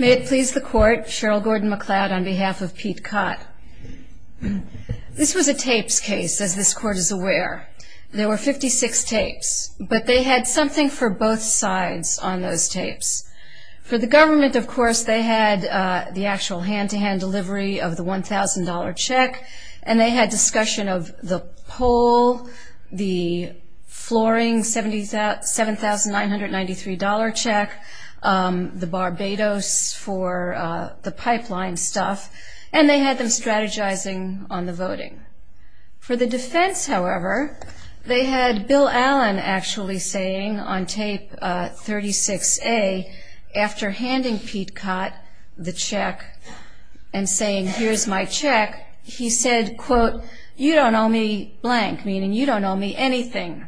May it please the court, Cheryl Gordon-McLeod on behalf of Pete Kott. This was a tapes case, as this court is aware. There were 56 tapes, but they had something for both sides on those tapes. For the government, of course, they had the actual hand-to-hand delivery of the $1,000 check, and they had discussion of the pole, the flooring, $7,993 check, the Barbados for the pipeline stuff, and they had them strategizing on the voting. For the defense, however, they had Bill Allen actually saying on tape 36A, after handing Pete Kott the check and saying, here's my check, he said, quote, you don't owe me blank, meaning you don't owe me anything,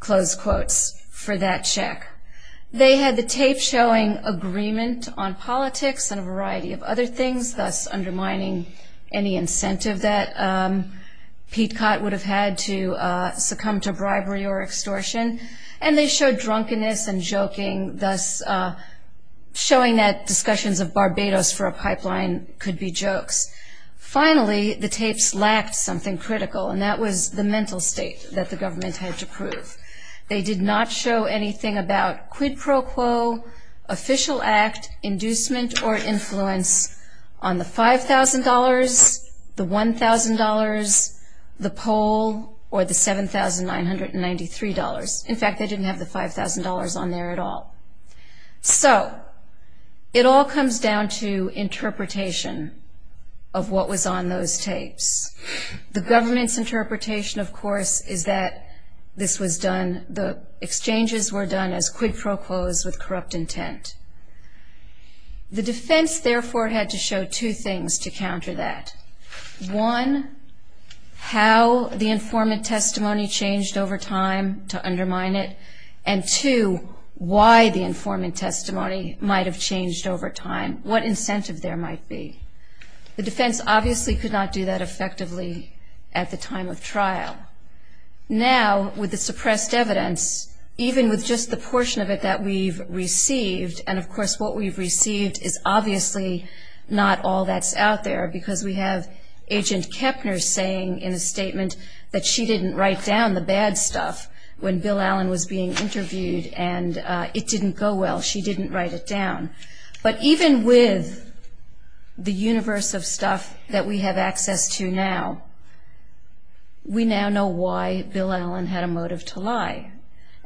close quotes, for that check. They had the tape showing agreement on politics and a variety of other things, thus undermining any incentive that Pete Kott would have had to succumb to bribery or extortion, and they showed drunkenness and joking, thus showing that discussions of Barbados for a pipeline could be jokes. Finally, the tapes lacked something critical, and that was the mental state that the government had to prove. They did not show anything about quid pro quo, official act, inducement, or influence on the $5,000, the $1,000, the pole, or the $7,993. In fact, they didn't have the $5,000 on there at all. So it all comes down to interpretation of what was on those tapes. The government's interpretation, of course, is that this was done, the exchanges were done as quid pro quos with corrupt intent. The defense, therefore, had to show two things to counter that. One, how the informant testimony changed over time to undermine it, and two, why the informant testimony might have changed over time, what incentive there might be. The defense obviously could not do that effectively at the time of trial. Now, with the suppressed evidence, even with just the portion of it that we've received, and of course what we've out there, because we have Agent Kepner saying in a statement that she didn't write down the bad stuff when Bill Allen was being interviewed, and it didn't go well, she didn't write it down. But even with the universe of stuff that we have access to now, we now know why Bill Allen had a motive to lie,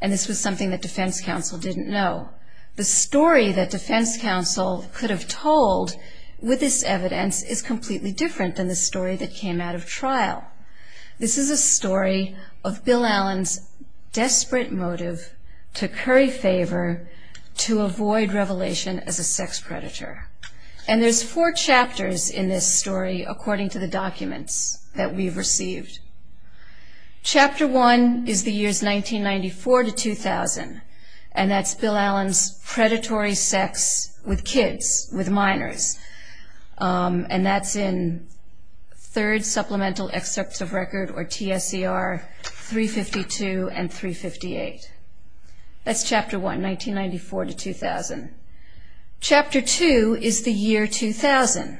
and this was something that defense counsel didn't know. The story that defense counsel could have told with this evidence is completely different than the story that came out of trial. This is a story of Bill Allen's desperate motive to curry favor, to avoid revelation as a sex predator. And there's four chapters in this story according to the documents that we've received. Chapter 1 is the years 1994 to 2000, and that's Bill Allen's predatory sex with kids, with minors. And that's in Third Supplemental Excerpt of Record, or TSER 352 and 358. That's Chapter 1, 1994 to 2000. Chapter 2 is the year 2000.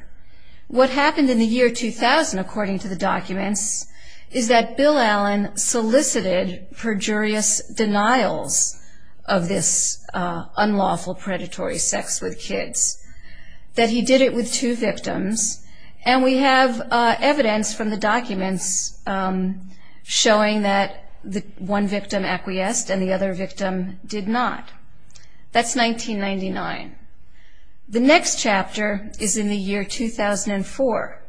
What happened in the year 2000 according to the documents is that Bill Allen solicited perjurious denials of this unlawful predatory sex with kids. That he did it with two victims, and we have evidence from the documents showing that one victim acquiesced and the other victim did not. That's 1999. The next chapter is in the year 2004,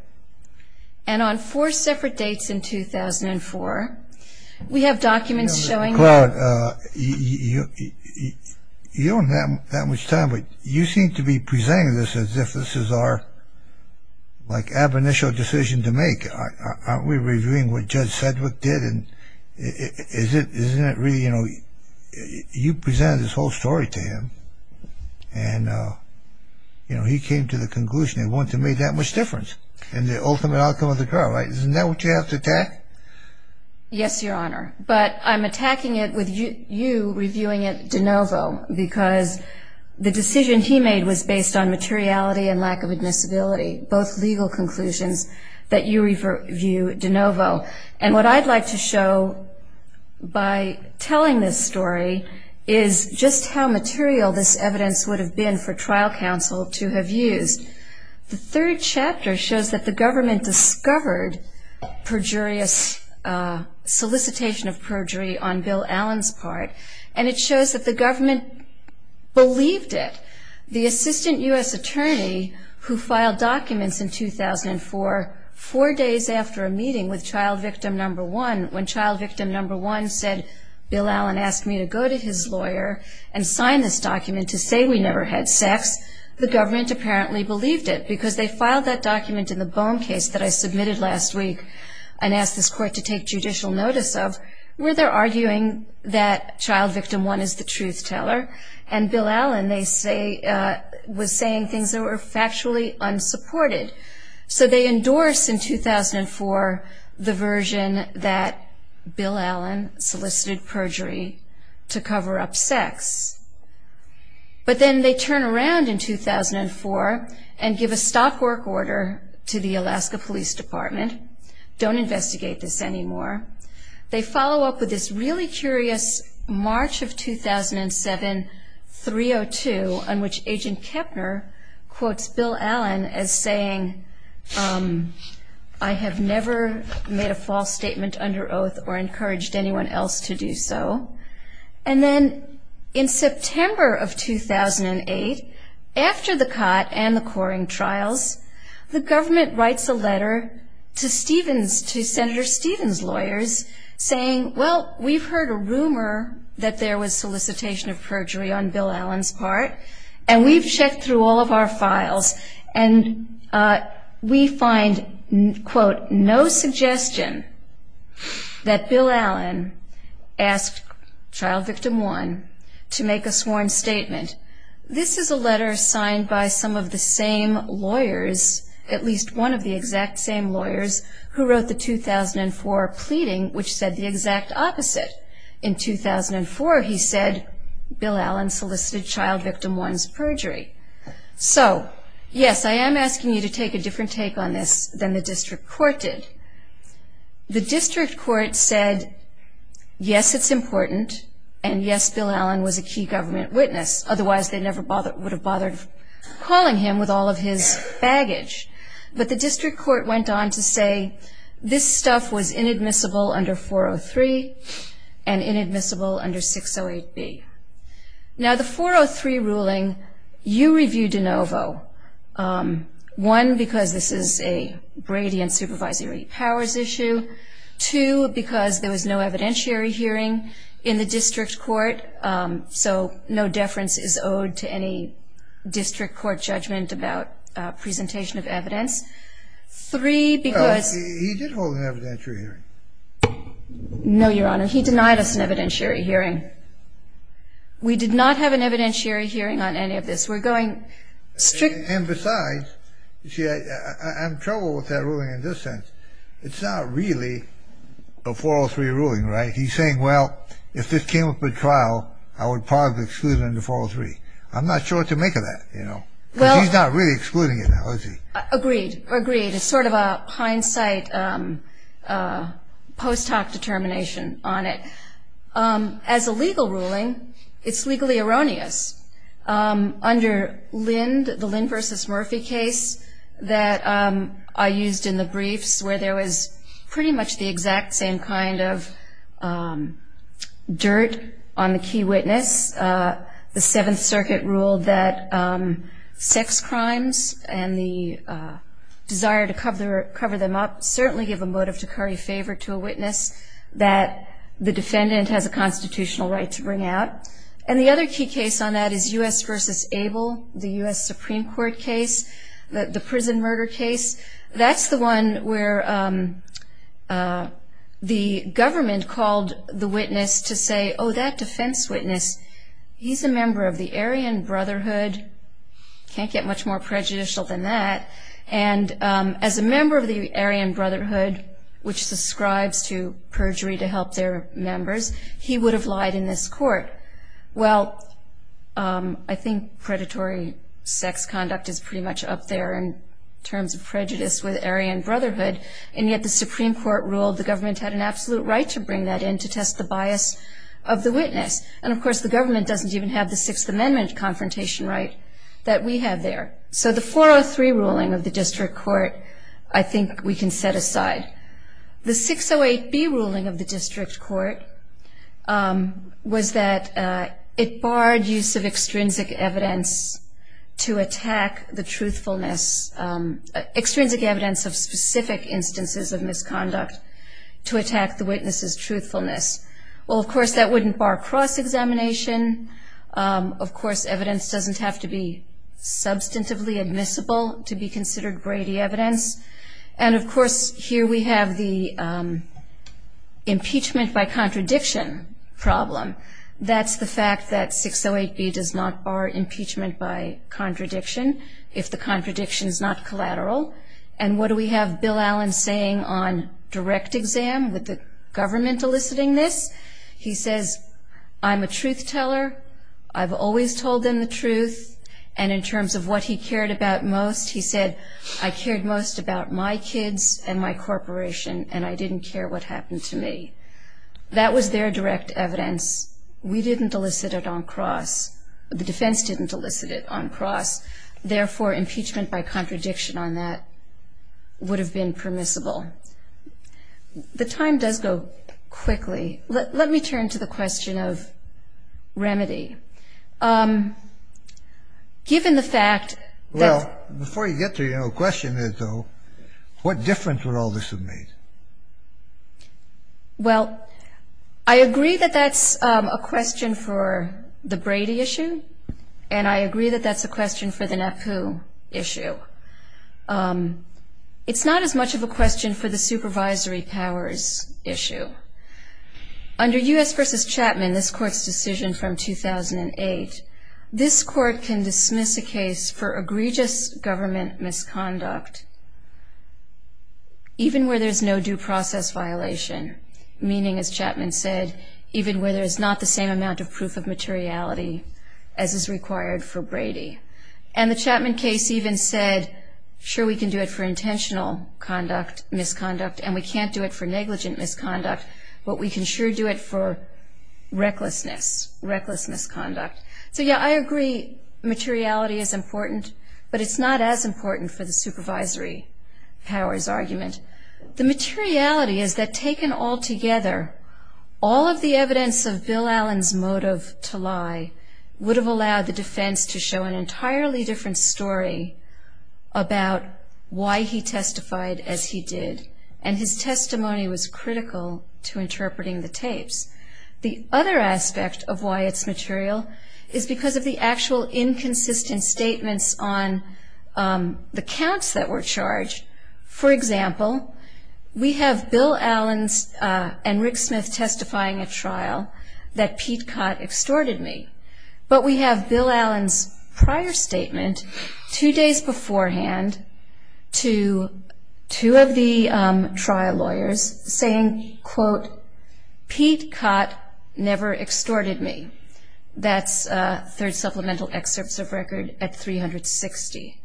and we're on four separate dates in 2004. We have documents showing that... Claude, you don't have that much time, but you seem to be presenting this as if this is our, like, ab initio decision to make. Aren't we reviewing what Judge Sedgwick did? And isn't it really, you know, you presented this whole story to him, and he came to the trial. Isn't that what you have to attack? Yes, Your Honor, but I'm attacking it with you reviewing it de novo, because the decision he made was based on materiality and lack of admissibility, both legal conclusions that you review de novo. And what I'd like to show by telling this story is just how material this evidence would have been for trial counsel to have used. The third chapter shows that the government discovered solicitation of perjury on Bill Allen's part, and it shows that the government believed it. The assistant U.S. attorney who filed documents in 2004, four days after a meeting with child victim number one, when child victim number one said, Bill Allen asked me to go to his lawyer and sign this document to say we never had sex, the government apparently believed it, because they filed that document in the Boehm case that I submitted last week and asked this court to take judicial notice of, where they're arguing that child victim one is the truth teller, and Bill Allen, they say, was saying things that were factually unsupported. So they endorse in 2004 the version that Bill Allen solicited perjury to cover up sex. But then they turn around in 2004 and give a stop work order to the Alaska Police Department, don't investigate this anymore. They follow up with this really curious March of 2007 302, on which Agent Kepner quotes Bill Allen as saying, I have never made a false statement under oath or encouraged anyone else to do so. And then in September of 2008, after the COT and the Coring Trials, the government writes a letter to Senator Stevens' lawyers saying, well, we've heard a rumor that there was solicitation of perjury on Bill Allen's part, and we've checked through all of our files, and we find, quote, no suggestion that Bill Allen asked child victim one to make a sworn statement. This is a letter signed by some of the same lawyers, at least one of the exact same lawyers, who wrote the 2004 pleading, which said the exact opposite. In 2004, he said, Bill Allen solicited child victim one's perjury. So, yes, I am asking you to take a different take on this than the district court did. The district court said, yes, it's important, and yes, Bill Allen was a key government witness. Otherwise, they never would have bothered calling him with all of his baggage. But the district court went on to say this stuff was inadmissible under 403 and inadmissible under 608B. Now, the 403 ruling, you reviewed de novo. One, because this is a Brady and supervisory powers issue. Two, because there was no evidentiary hearing in the district court, so no deference is owed to any district court judgment about presentation of evidence. Three, because he did hold an evidentiary hearing. No, Your Honor, he denied us an evidentiary hearing. We did not have an evidentiary hearing on any of this. We're going strict. And besides, you see, I'm troubled with that ruling in this sense. It's not really a 403 ruling, right? He's saying, well, if this came up in trial, I would pause the exclusion under 403. I'm not sure what to make of that, you know, the excluding analogy. Agreed. Agreed. It's sort of a hindsight post hoc determination on it. As a legal ruling, it's legally erroneous. Under Lind, the Lind v. Murphy case that I used in the briefs where there was pretty much the exact same kind of dirt on the key witness, the Seventh Circuit ruled that sex crimes and the desire to cover them up certainly give a motive to curry favor to a witness that the defendant has a constitutional right to bring out. And the other key case on that is U.S. v. Abel, the U.S. Supreme Court case, the prison murder case. That's the one where the government called the witness to say, oh, that defense witness, he's a member of the Aryan Brotherhood. Can't get much more prejudicial than that. And as a member of the Aryan Brotherhood, which subscribes to perjury to help their members, he would have lied in this court. Well, I think predatory sex conduct is pretty much up there in terms of prejudice with Aryan Brotherhood. And yet the Supreme Court ruled the government had an absolute right to bring that in to test the bias of the witness. And, of course, the government doesn't even have the Sixth Amendment confrontation right that we have there. So the 403 ruling of the district court, I think we can set aside. The 608B ruling of the district court was that it barred use of extrinsic evidence to attack the truthfulness, extrinsic evidence of specific instances of the crime. Well, of course, that wouldn't bar cross-examination. Of course, evidence doesn't have to be substantively admissible to be considered Brady evidence. And, of course, here we have the impeachment by contradiction problem. That's the fact that 608B does not bar impeachment by contradiction if the contradiction is not collateral. And what do we have Bill Newman eliciting this? He says, I'm a truth teller. I've always told them the truth. And in terms of what he cared about most, he said, I cared most about my kids and my corporation and I didn't care what happened to me. That was their direct evidence. We didn't elicit it on cross. The defense didn't elicit it on cross. Therefore, impeachment by contradiction on that would have been permissible. The time does go quickly. Let me turn to the question of remedy. Given the fact that — Well, before you get to your question, though, what difference would all this have made? Well, I agree that that's a question for the Brady issue, and I agree that that's a question for the NAPU issue. It's not as much of a question for the supervisory powers issue. Under U.S. v. Chapman, this court's decision from 2008, this court can dismiss a case for egregious government misconduct even where there's no due process violation, meaning, as Chapman said, even where there's not the same amount of proof of materiality as is and the Chapman case even said, sure, we can do it for intentional conduct, misconduct, and we can't do it for negligent misconduct, but we can sure do it for recklessness, reckless misconduct. So, yeah, I agree materiality is important, but it's not as important for the supervisory powers argument. The materiality is that taken all together, all of the evidence of Bill Allen's motive to lie would have allowed the defense to show an entirely different story about why he testified as he did, and his testimony was critical to interpreting the tapes. The other aspect of why it's material is because of the actual inconsistent statements on the counts that were charged. For example, we have Bill Allen and Rick Smith testifying at trial that Pete Cott extorted me, but we have Bill Allen's prior statement two days beforehand to two of the trial lawyers saying, quote, Pete Cott never extorted me. That's third supplemental excerpts of record at 360.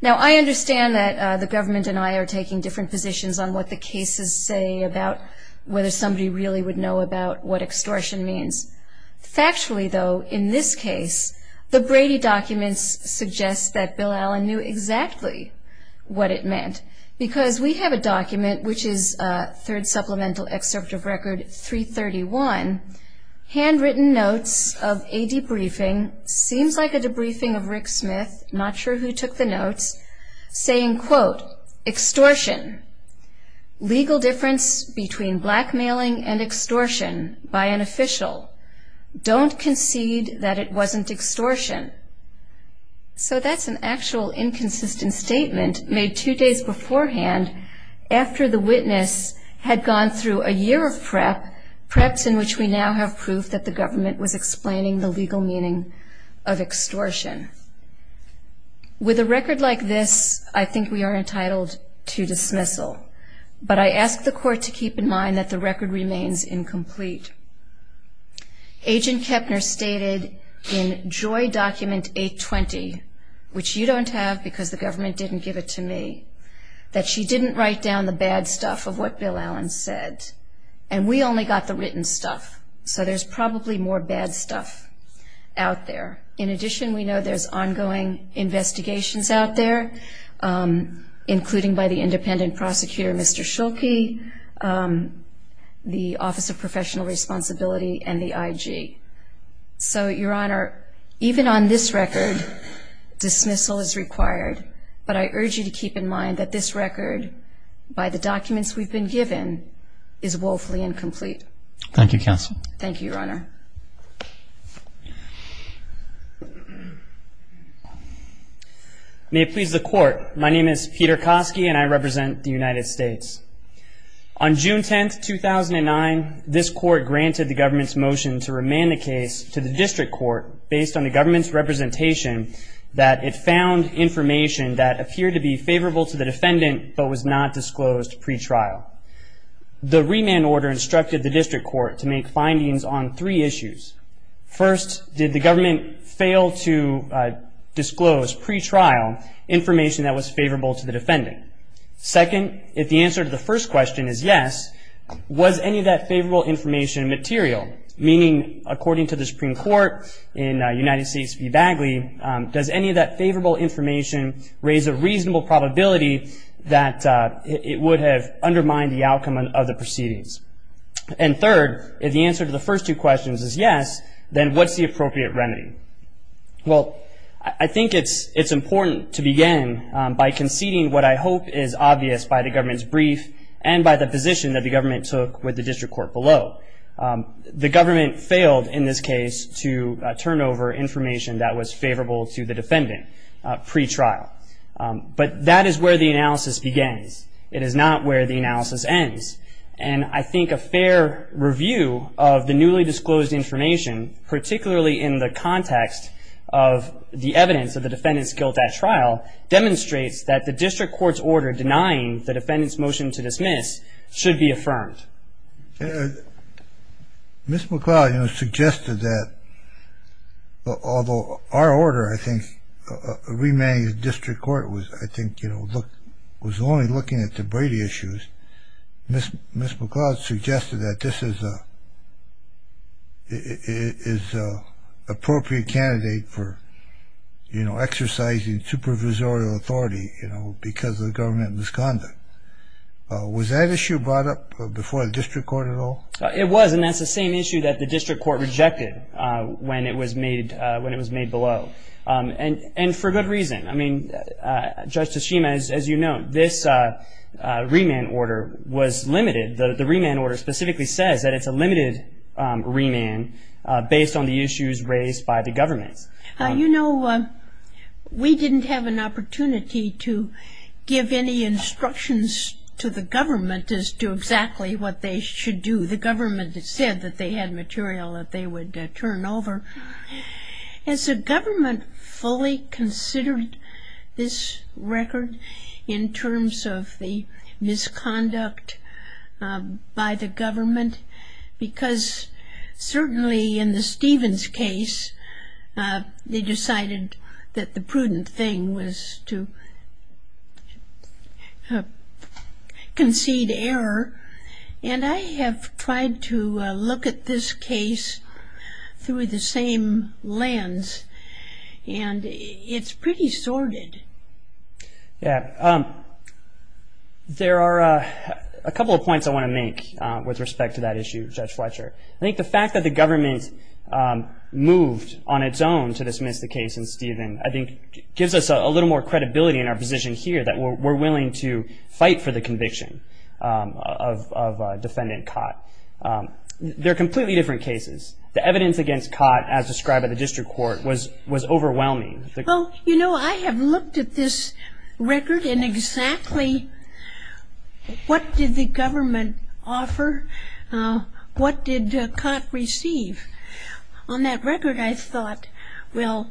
Now, I understand that the government and I are taking different positions on what the cases say about whether somebody really would know about what extortion means. Factually, though, in this case, the Brady documents suggest that Bill Allen knew exactly what it meant, because we have a document, which is third supplemental excerpt of record 331, handwritten notes of a debriefing, seems like a debriefing of Rick Smith, not sure who took the notes, saying, quote, extortion, legal difference between blackmailing and extortion by an official. Don't concede that it wasn't extortion. So that's an actual inconsistent statement made two days beforehand after the witness had gone through a year of prep, preps in which we now have proof that the government was explaining the legal meaning of extortion. With a record like this, I think we are entitled to dismissal. But I ask the court to keep in mind that the record remains incomplete. Agent Kepner stated in Joy Document 820, which you don't have because the government didn't give it to me, that she didn't write down the bad stuff of what Bill Allen said. And we only got the written stuff. So there's probably more bad stuff out there. In addition, we know there's ongoing investigations out there, including by the independent prosecutor, Mr. Schuelke, the Office of Professional Responsibility, and the IG. So, Your Honor, even on this record, dismissal is required. But I urge you to keep in mind that this record, by the documents we've been given, is woefully incomplete. Thank you, Counsel. Thank you, Your Honor. May it please the Court, my name is Peter Kosky and I represent the United States. On June 10, 2009, this Court granted the government's motion to remand the case to the District Court based on the government's representation that it found information that appeared to be favorable to the defendant but was not disclosed pre-trial. The remand order instructed the District Court to make findings on three issues. First, did the government fail to disclose pre-trial information that was favorable to the defendant? Second, if the answer to the first question is yes, was any of that favorable information material? Meaning, according to the Supreme Court in United States v. Bagley, does any of that favorable information raise a reasonable probability that it would have undermined the outcome of the proceedings? And third, if the answer to the first two questions is yes, then what's the appropriate remedy? Well, I think it's important to begin by conceding what I hope is obvious by the government's brief and by the position that the government took with the District Court below. The government failed in this case to turn over information that was favorable to the defendant pre-trial. But that is where the analysis begins. It is not where the analysis ends. And I think a fair review of the newly disclosed information, particularly in the context of the evidence of the defendant's guilt at trial, demonstrates that the District Court's order denying the defendant's motion to dismiss should be affirmed. Mr. McLeod, you know, suggested that, although our order, I think, remanding the District Court was, I think, you know, was only looking at the Brady issues. Ms. McLeod suggested that this is an appropriate candidate for, you know, exercising supervisorial authority, you know, because of the government misconduct. Was that issue brought up before the District Court at all? It was, and that's the same issue that the District Court rejected when it was made below. And for good reason. I mean, Justice Schema, as you know, this remand order was limited. The remand order specifically says that it's a limited remand based on the discretion of the District Court to give any instructions to the government as to exactly what they should do. The government said that they had material that they would turn over. Has the government fully considered this record in terms of the misconduct by the government? Because certainly in the Stevens case, they decided that the prudent thing was to concede error. And I have tried to look at this case through the same lens, and it's pretty sordid. Yeah. There are a couple of points I want to make with respect to that issue, Judge Fletcher. I think the fact that the government moved on its own to dismiss the case in Stevens, I think, gives us a little more credibility in our position here that we're willing to fight for the conviction of Defendant Cott. They're completely different cases. The evidence against Cott, as described by the District Court, was overwhelming. Well, you know, I have looked at this record, and exactly what did the government offer? What did Cott receive? On that record, I thought, well,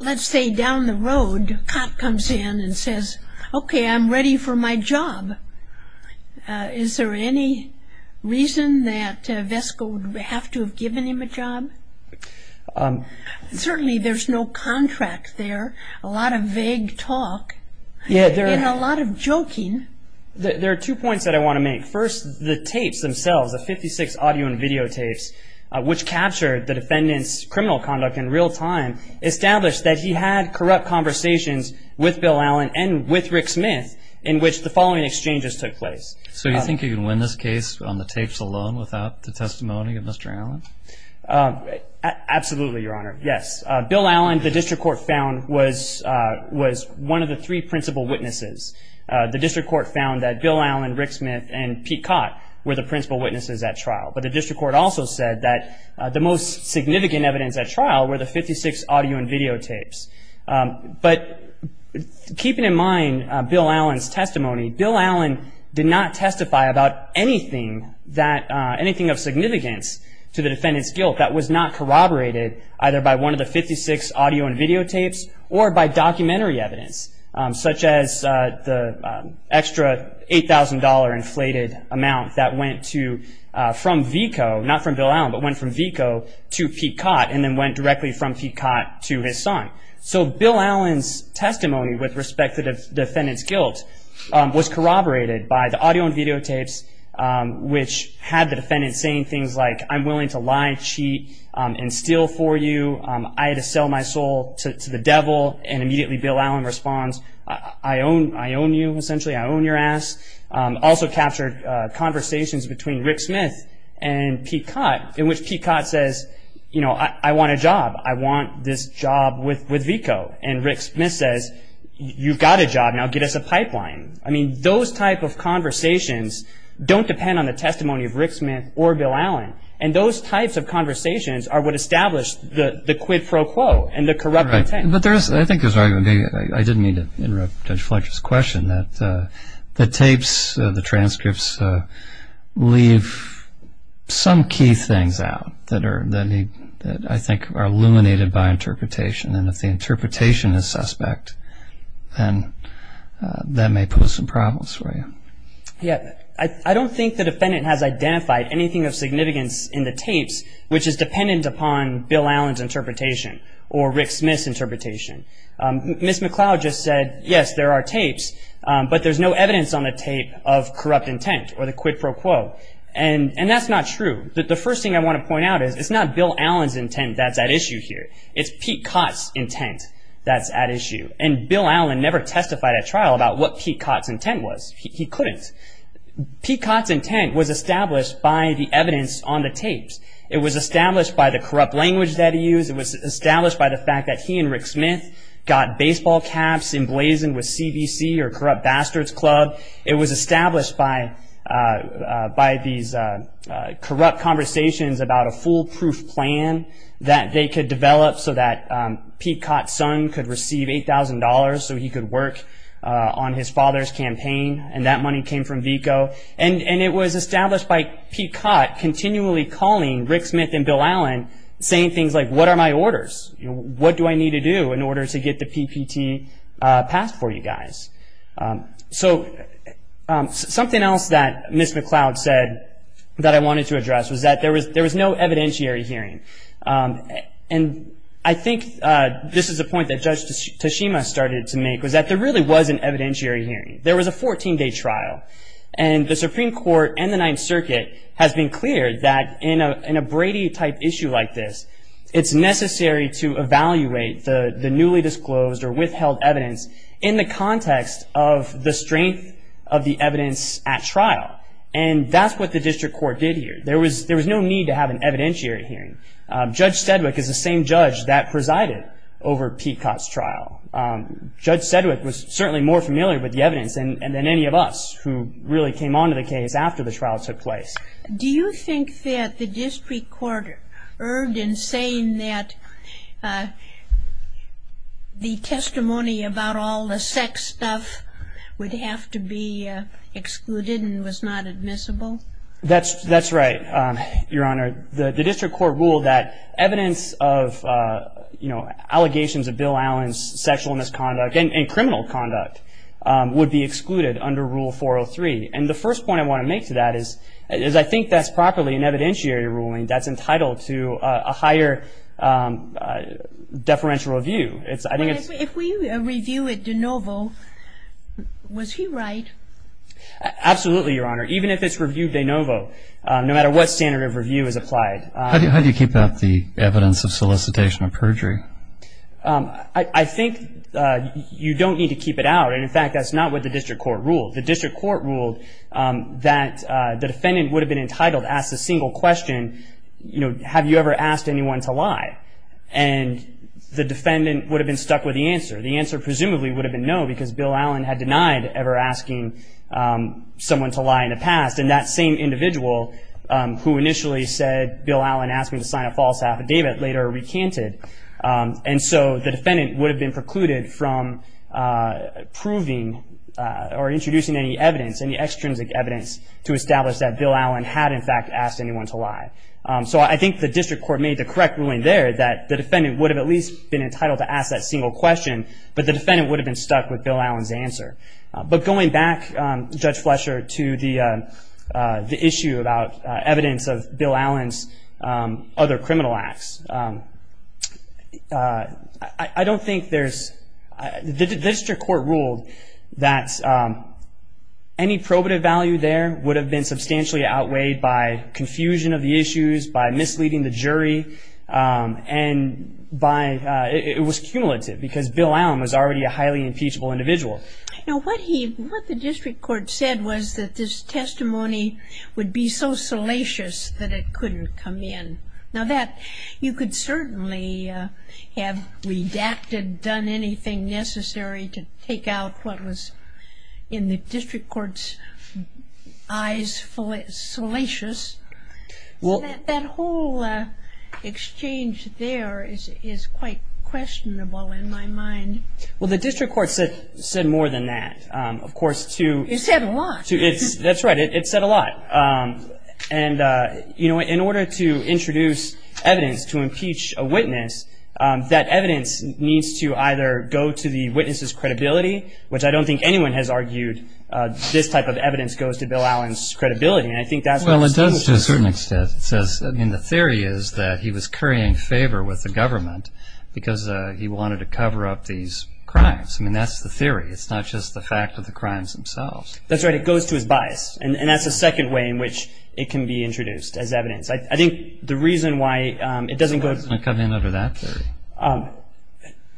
let's say down the road, Cott comes in and says, okay, I'm ready for my job. Is there any reason that Vesco would have to have given him a job? Certainly there's no contract there, a lot of vague talk, and a lot of joking. There are two points that I want to make. First, the tapes themselves, the 56 audio and video tapes, which captured the defendant's criminal conduct in real time, established that he had corrupt conversations with Bill Allen and with Rick Smith in which the following exchanges took place. So you think you can win this case on the tapes alone without the testimony of Mr. Allen? Absolutely, Your Honor. Yes. Bill Allen, the District Court found, was one of the three principal witnesses. The District Court found that Bill Allen, Rick Smith, and Pete Cott were the principal witnesses at trial. But the District Court also said that the most significant evidence at trial were the 56 audio and video tapes. But keeping in mind Bill Allen's testimony, Bill Allen did not testify about anything of significance to the defendant's guilt that was not corroborated either by one of the 56 audio and video tapes or by documentary evidence, such as the extra $8,000 inflated amount that went from Vesco, not from Bill Allen, but went from Vesco to Pete Cott and then went directly from Pete Cott to his son. So Bill Allen's testimony with respect to the defendant's guilt was corroborated by the audio and video tapes, which had the defendant saying things like, I'm willing to lie, cheat, and steal for you. I had to sell my soul to the devil. And immediately Bill Allen responds, I own you, essentially. I own your ass. Also captured conversations between Rick Smith and Pete Cott in which Pete Cott says, you know, I want a job. I want this job with Vesco. And Rick Smith says, you've got a job, now get us a pipeline. I mean, those type of conversations don't depend on the testimony of Rick Smith or Bill Allen. And those types of conversations are what established the quid pro quo and the corrupt intent. Right. But there is, I think there's an argument, I didn't mean to interrupt Judge Fletcher's question, that the tapes, the transcripts, leave some key things out that I think are illuminated by interpretation. And if the interpretation is suspect, then that may pose some problems for you. Yeah. I don't think the defendant has identified anything of significance in the tapes which is dependent upon Bill Allen's interpretation or Rick Smith's interpretation. Ms. McCloud just said, yes, there are tapes, but there's no evidence on the tape of corrupt intent or the quid pro quo. And that's not true. The first thing I want to point out is it's not Bill Allen's intent that's at issue here. It's Pete Cott's intent that's at issue. And Bill Allen never testified at trial about what Pete Cott's intent was. He couldn't. Pete Cott's intent was established by the evidence on the tapes. It was established by the corrupt language that he used. It was perhaps emblazoned with CBC or Corrupt Bastards Club. It was established by these corrupt conversations about a foolproof plan that they could develop so that Pete Cott's son could receive $8,000 so he could work on his father's campaign. And that money came from VECO. And it was established by Pete Cott continually calling Rick Smith and Bill Allen saying things like, what are my orders? What do I need to do in order to get the PPT passed for you guys? So something else that Ms. McCloud said that I wanted to address was that there was no evidentiary hearing. And I think this is a point that Judge Tashima started to make was that there really was an evidentiary hearing. There was a 14-day trial. And the Supreme Court, it's necessary to evaluate the newly disclosed or withheld evidence in the context of the strength of the evidence at trial. And that's what the district court did here. There was no need to have an evidentiary hearing. Judge Sedgwick is the same judge that presided over Pete Cott's trial. Judge Sedgwick was certainly more familiar with the evidence than any of us who really came on to the case after the trial took place. Do you think that the district court erred in saying that the testimony about all the sex stuff would have to be excluded and was not admissible? That's right, Your Honor. The district court ruled that evidence of, you know, allegations of Bill Allen's sexual misconduct and criminal conduct would be excluded under Rule 403. And the first point I want to make to that is I think that's properly an evidentiary ruling that's entitled to a higher deferential review. It's – I think it's – If we review it de novo, was he right? Absolutely, Your Honor. Even if it's reviewed de novo, no matter what standard of review is applied. How do you keep out the evidence of solicitation of perjury? I think you don't need to keep it out. And, in fact, that's not what the district court ruled. The district court ruled that the defendant would have been entitled to ask a single question, you know, have you ever asked anyone to lie? And the defendant would have been stuck with the answer. The answer presumably would have been no because Bill Allen had denied ever asking someone to lie in the past. And that same individual who initially said Bill Allen asked me to sign a false affidavit later recanted. And so the defendant would have been precluded from proving or introducing any evidence, any extrinsic evidence to establish that Bill Allen had, in fact, asked anyone to lie. So I think the district court made the correct ruling there that the defendant would have at least been entitled to ask that single question, but the defendant would have been stuck with Bill Allen's answer. But going back, Judge Fletcher, to the issue about evidence of Bill Allen's other criminal acts, I don't think there's – the district court ruled that any probative value there would have been substantially outweighed by confusion of the issues, by misleading the jury, and by – it was cumulative because Bill Allen was already a highly impeachable individual. Now, what he – what the district court said was that this testimony would be so salacious that it couldn't come in. Now, that – you could certainly have redacted, done anything necessary to take out what was in the district court's eyes salacious. Well – That whole exchange there is quite questionable in my mind. Well, the district court said more than that. Of course, to – It said a lot. That's right. It said a lot. And, you know, in order to introduce evidence to impeach a witness, that evidence needs to either go to the witness's credibility, which I don't think anyone has argued this type of evidence goes to Bill Allen's credibility, and I think that's what the district court said. Well, it does to a certain extent. It says – I mean, the theory is that he was currying favor with the government because he wanted to cover up these crimes. I mean, that's the theory. It's not just the fact of the crimes themselves. That's right. It goes to his bias, and that's the second way in which it can be introduced as evidence. I think the reason why it doesn't go to – I'm not coming in over that theory.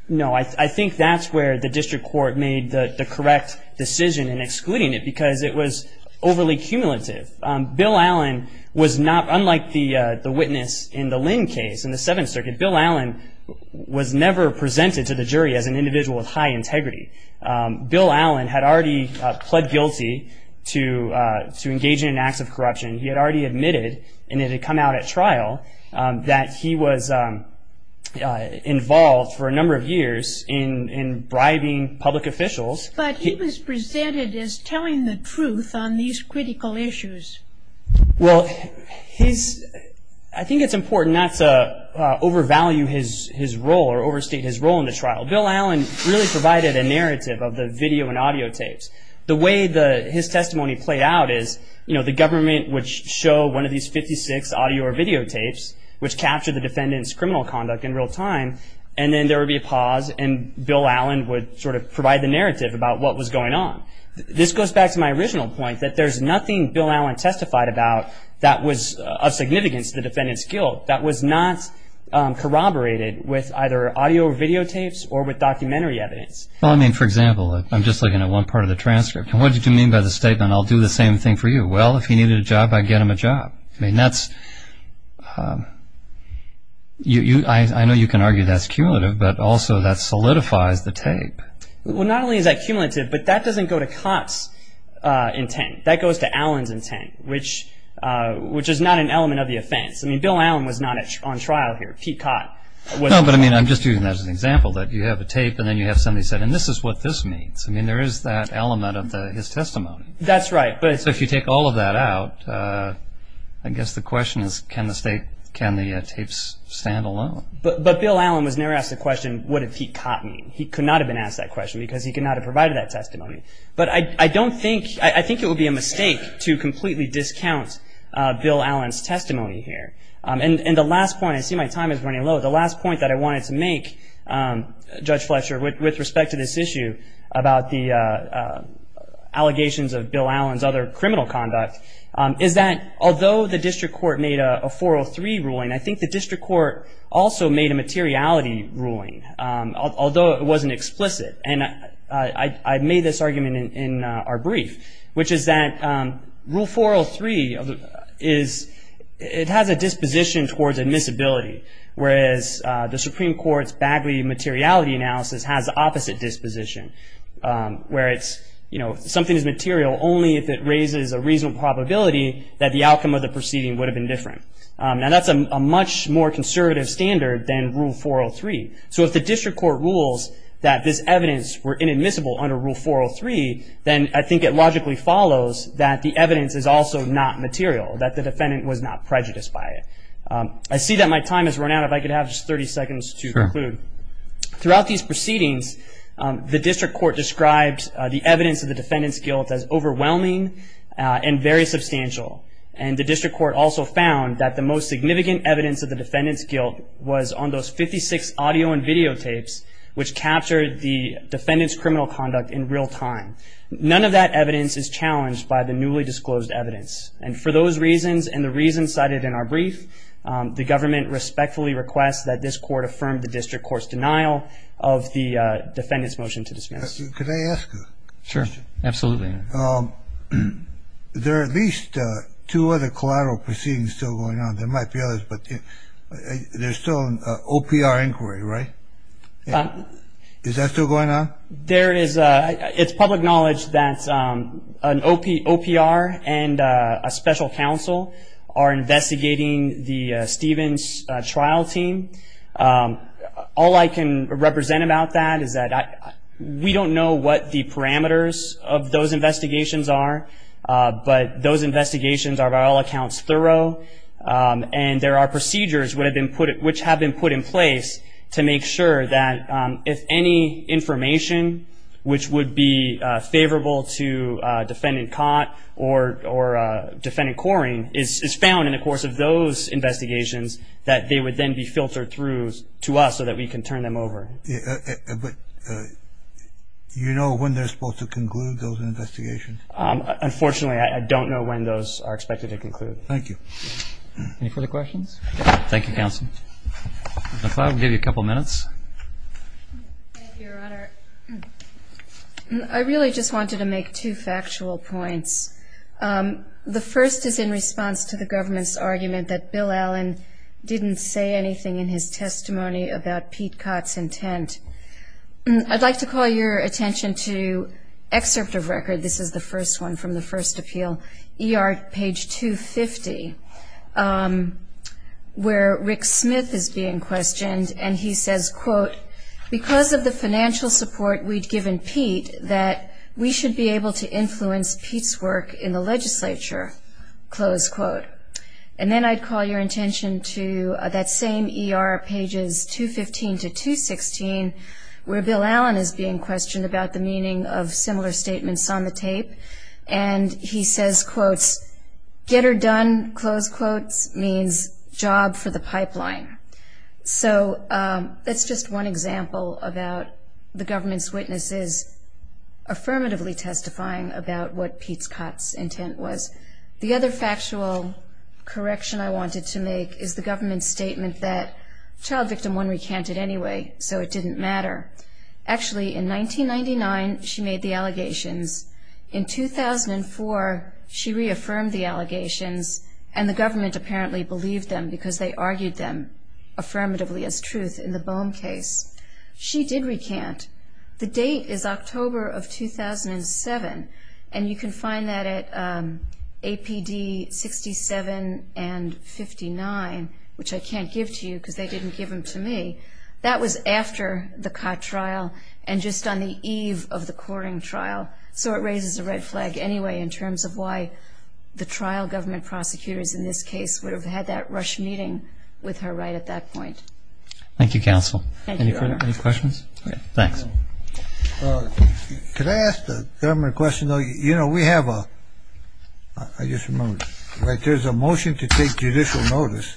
No. I think that's where the district court made the correct decision in excluding it because it was overly cumulative. Bill Allen was not – unlike the witness in the Lynn case in the Seventh Circuit, Bill Allen was never presented to the jury as an individual with high integrity. Bill Allen had already pled guilty to engaging in acts of corruption. He had already admitted, and it had come out at trial, that he was involved for a number of years in bribing public officials. But he was presented as telling the truth on these critical issues. Well, his – I think it's important not to overvalue his role or overstate his role in the trial. Bill Allen really provided a narrative of the video and audio tapes. The way the – his testimony played out is, you know, the government would show one of these 56 audio or video tapes, which captured the defendant's criminal conduct in real time, and then there would be a pause, and Bill Allen would sort of provide the narrative about what was going on. This goes back to my original point, that there's nothing Bill Allen testified about that was of significance to the defendant's guilt that was not corroborated with either audio or video tapes or with documentary evidence. Well, I mean, for example, I'm just looking at one part of the transcript. And what did you mean by the statement, I'll do the same thing for you? Well, if he needed a job, I'd get him a job. I mean, that's – I know you can argue that's cumulative, but also that solidifies the tape. Well, not only is that cumulative, but that doesn't go to Cott's intent. That goes to Allen's intent, which is not an element of the offense. I mean, Bill Allen was not on trial here. Pete Cott was not. No, but I mean, I'm just using that as an example, that you have a tape and then you have somebody said, and this is what this means. I mean, there is that element of his testimony. That's right, but it's – So if you take all of that out, I guess the question is, can the tape stand alone? But Bill Allen was never asked the question, what did Pete Cott mean? He could not have been asked that question because he could not have provided that testimony. But I don't think – I think it would be a mistake to completely discount Bill Allen's testimony here. And the last point – I see my time is running low. The last point that I wanted to make, Judge Fletcher, with respect to this issue about the allegations of Bill Allen's other criminal conduct, is that although the district court made a 403 ruling, I think the district court also made a materiality ruling, although it wasn't explicit. And I made this argument in our brief, which is that Rule 403 is – it has a disposition towards admissibility, whereas the Supreme Court's Bagley materiality analysis has opposite disposition, where it's, you know, something is material only if it raises a reasonable probability that the outcome of the proceeding would have been different. Now, that's a much more conservative standard than Rule 403. So if the district court rules that this evidence were inadmissible under Rule 403, then I think it logically follows that the evidence is also not material, that the defendant was not prejudiced by it. I see that my time has run out. If I could have just 30 seconds to conclude. Sure. Throughout these proceedings, the district court described the evidence of the defendant's guilt as overwhelming and very substantial. And the district court also found that the most significant evidence of the defendant's videotapes, which captured the defendant's criminal conduct in real time. None of that evidence is challenged by the newly disclosed evidence. And for those reasons and the reasons cited in our brief, the government respectfully requests that this court affirm the district court's denial of the defendant's motion to dismiss. Could I ask a question? Sure. Absolutely. There are at least two other collateral proceedings still going on. There might be others, but there's still an OPR inquiry, right? Is that still going on? There is. It's public knowledge that an OPR and a special counsel are investigating the Stevens trial team. All I can represent about that is that we don't know what the parameters of those investigations are, but those investigations are, by all accounts, thorough. And there are procedures which have been put in place to make sure that if any information which would be favorable to defendant Cott or defendant Coring is found in the course of those investigations, that they would then be filtered through to us so that we can turn them over. But you know when they're supposed to conclude those investigations? Unfortunately, I don't know when those are expected to conclude. Thank you. Any further questions? Thank you, counsel. I thought I would give you a couple minutes. Thank you, Your Honor. I really just wanted to make two factual points. The first is in response to the government's argument that Bill Allen didn't say anything in his testimony about Pete Cott's intent. I'd like to call your attention to excerpt of record. This is the first one from the first appeal, ER page 250, where Rick Smith is being questioned and he says, quote, because of the financial support we'd given Pete that we should be able to influence Pete's work in the legislature, close quote. And then I'd call your attention to that same ER, pages 215 to 216, where Bill Allen is being questioned about the meaning of similar statements on the tape. And he says, quote, get her done, close quote, means job for the pipeline. So that's just one example about the government's witnesses affirmatively testifying about what Pete Cott's intent was. The other factual correction I wanted to make is the government's statement that child victim one recanted anyway, so it didn't matter. Actually, in 1999, she made the allegations. In 2004, she reaffirmed the allegations, and the government apparently believed them because they argued them affirmatively as truth in the Boehm case. She did recant. The date is October of 2007, and you can find that at APD 67 and 59, which I can't give to you because they didn't give them to me. That was after the Cott trial and just on the eve of the Coring trial, so it raises a red flag anyway in terms of why the trial government prosecutors in this case would have had that rush meeting with her right at that point. Thank you, counsel. Thank you. Any questions? Thanks. Could I ask the government a question, though? You know, we have a ‑‑ I just remembered. There's a motion to take judicial notice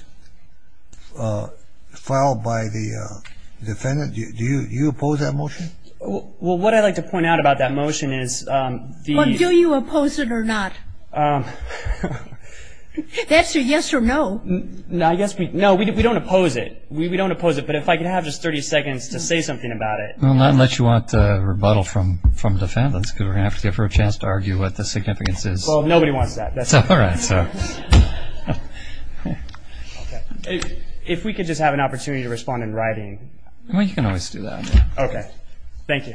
filed by the defendant. Do you oppose that motion? Well, what I'd like to point out about that motion is the ‑‑ Well, do you oppose it or not? That's a yes or no. No, we don't oppose it. We don't oppose it, but if I could have just 30 seconds to say something about it. Well, not unless you want a rebuttal from the defendants, because we're going to have to give her a chance to argue what the significance is. Well, nobody wants that. All right. If we could just have an opportunity to respond in writing. Well, you can always do that. Okay. Thank you.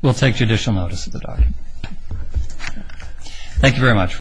We'll take judicial notice of the document. Thank you very much.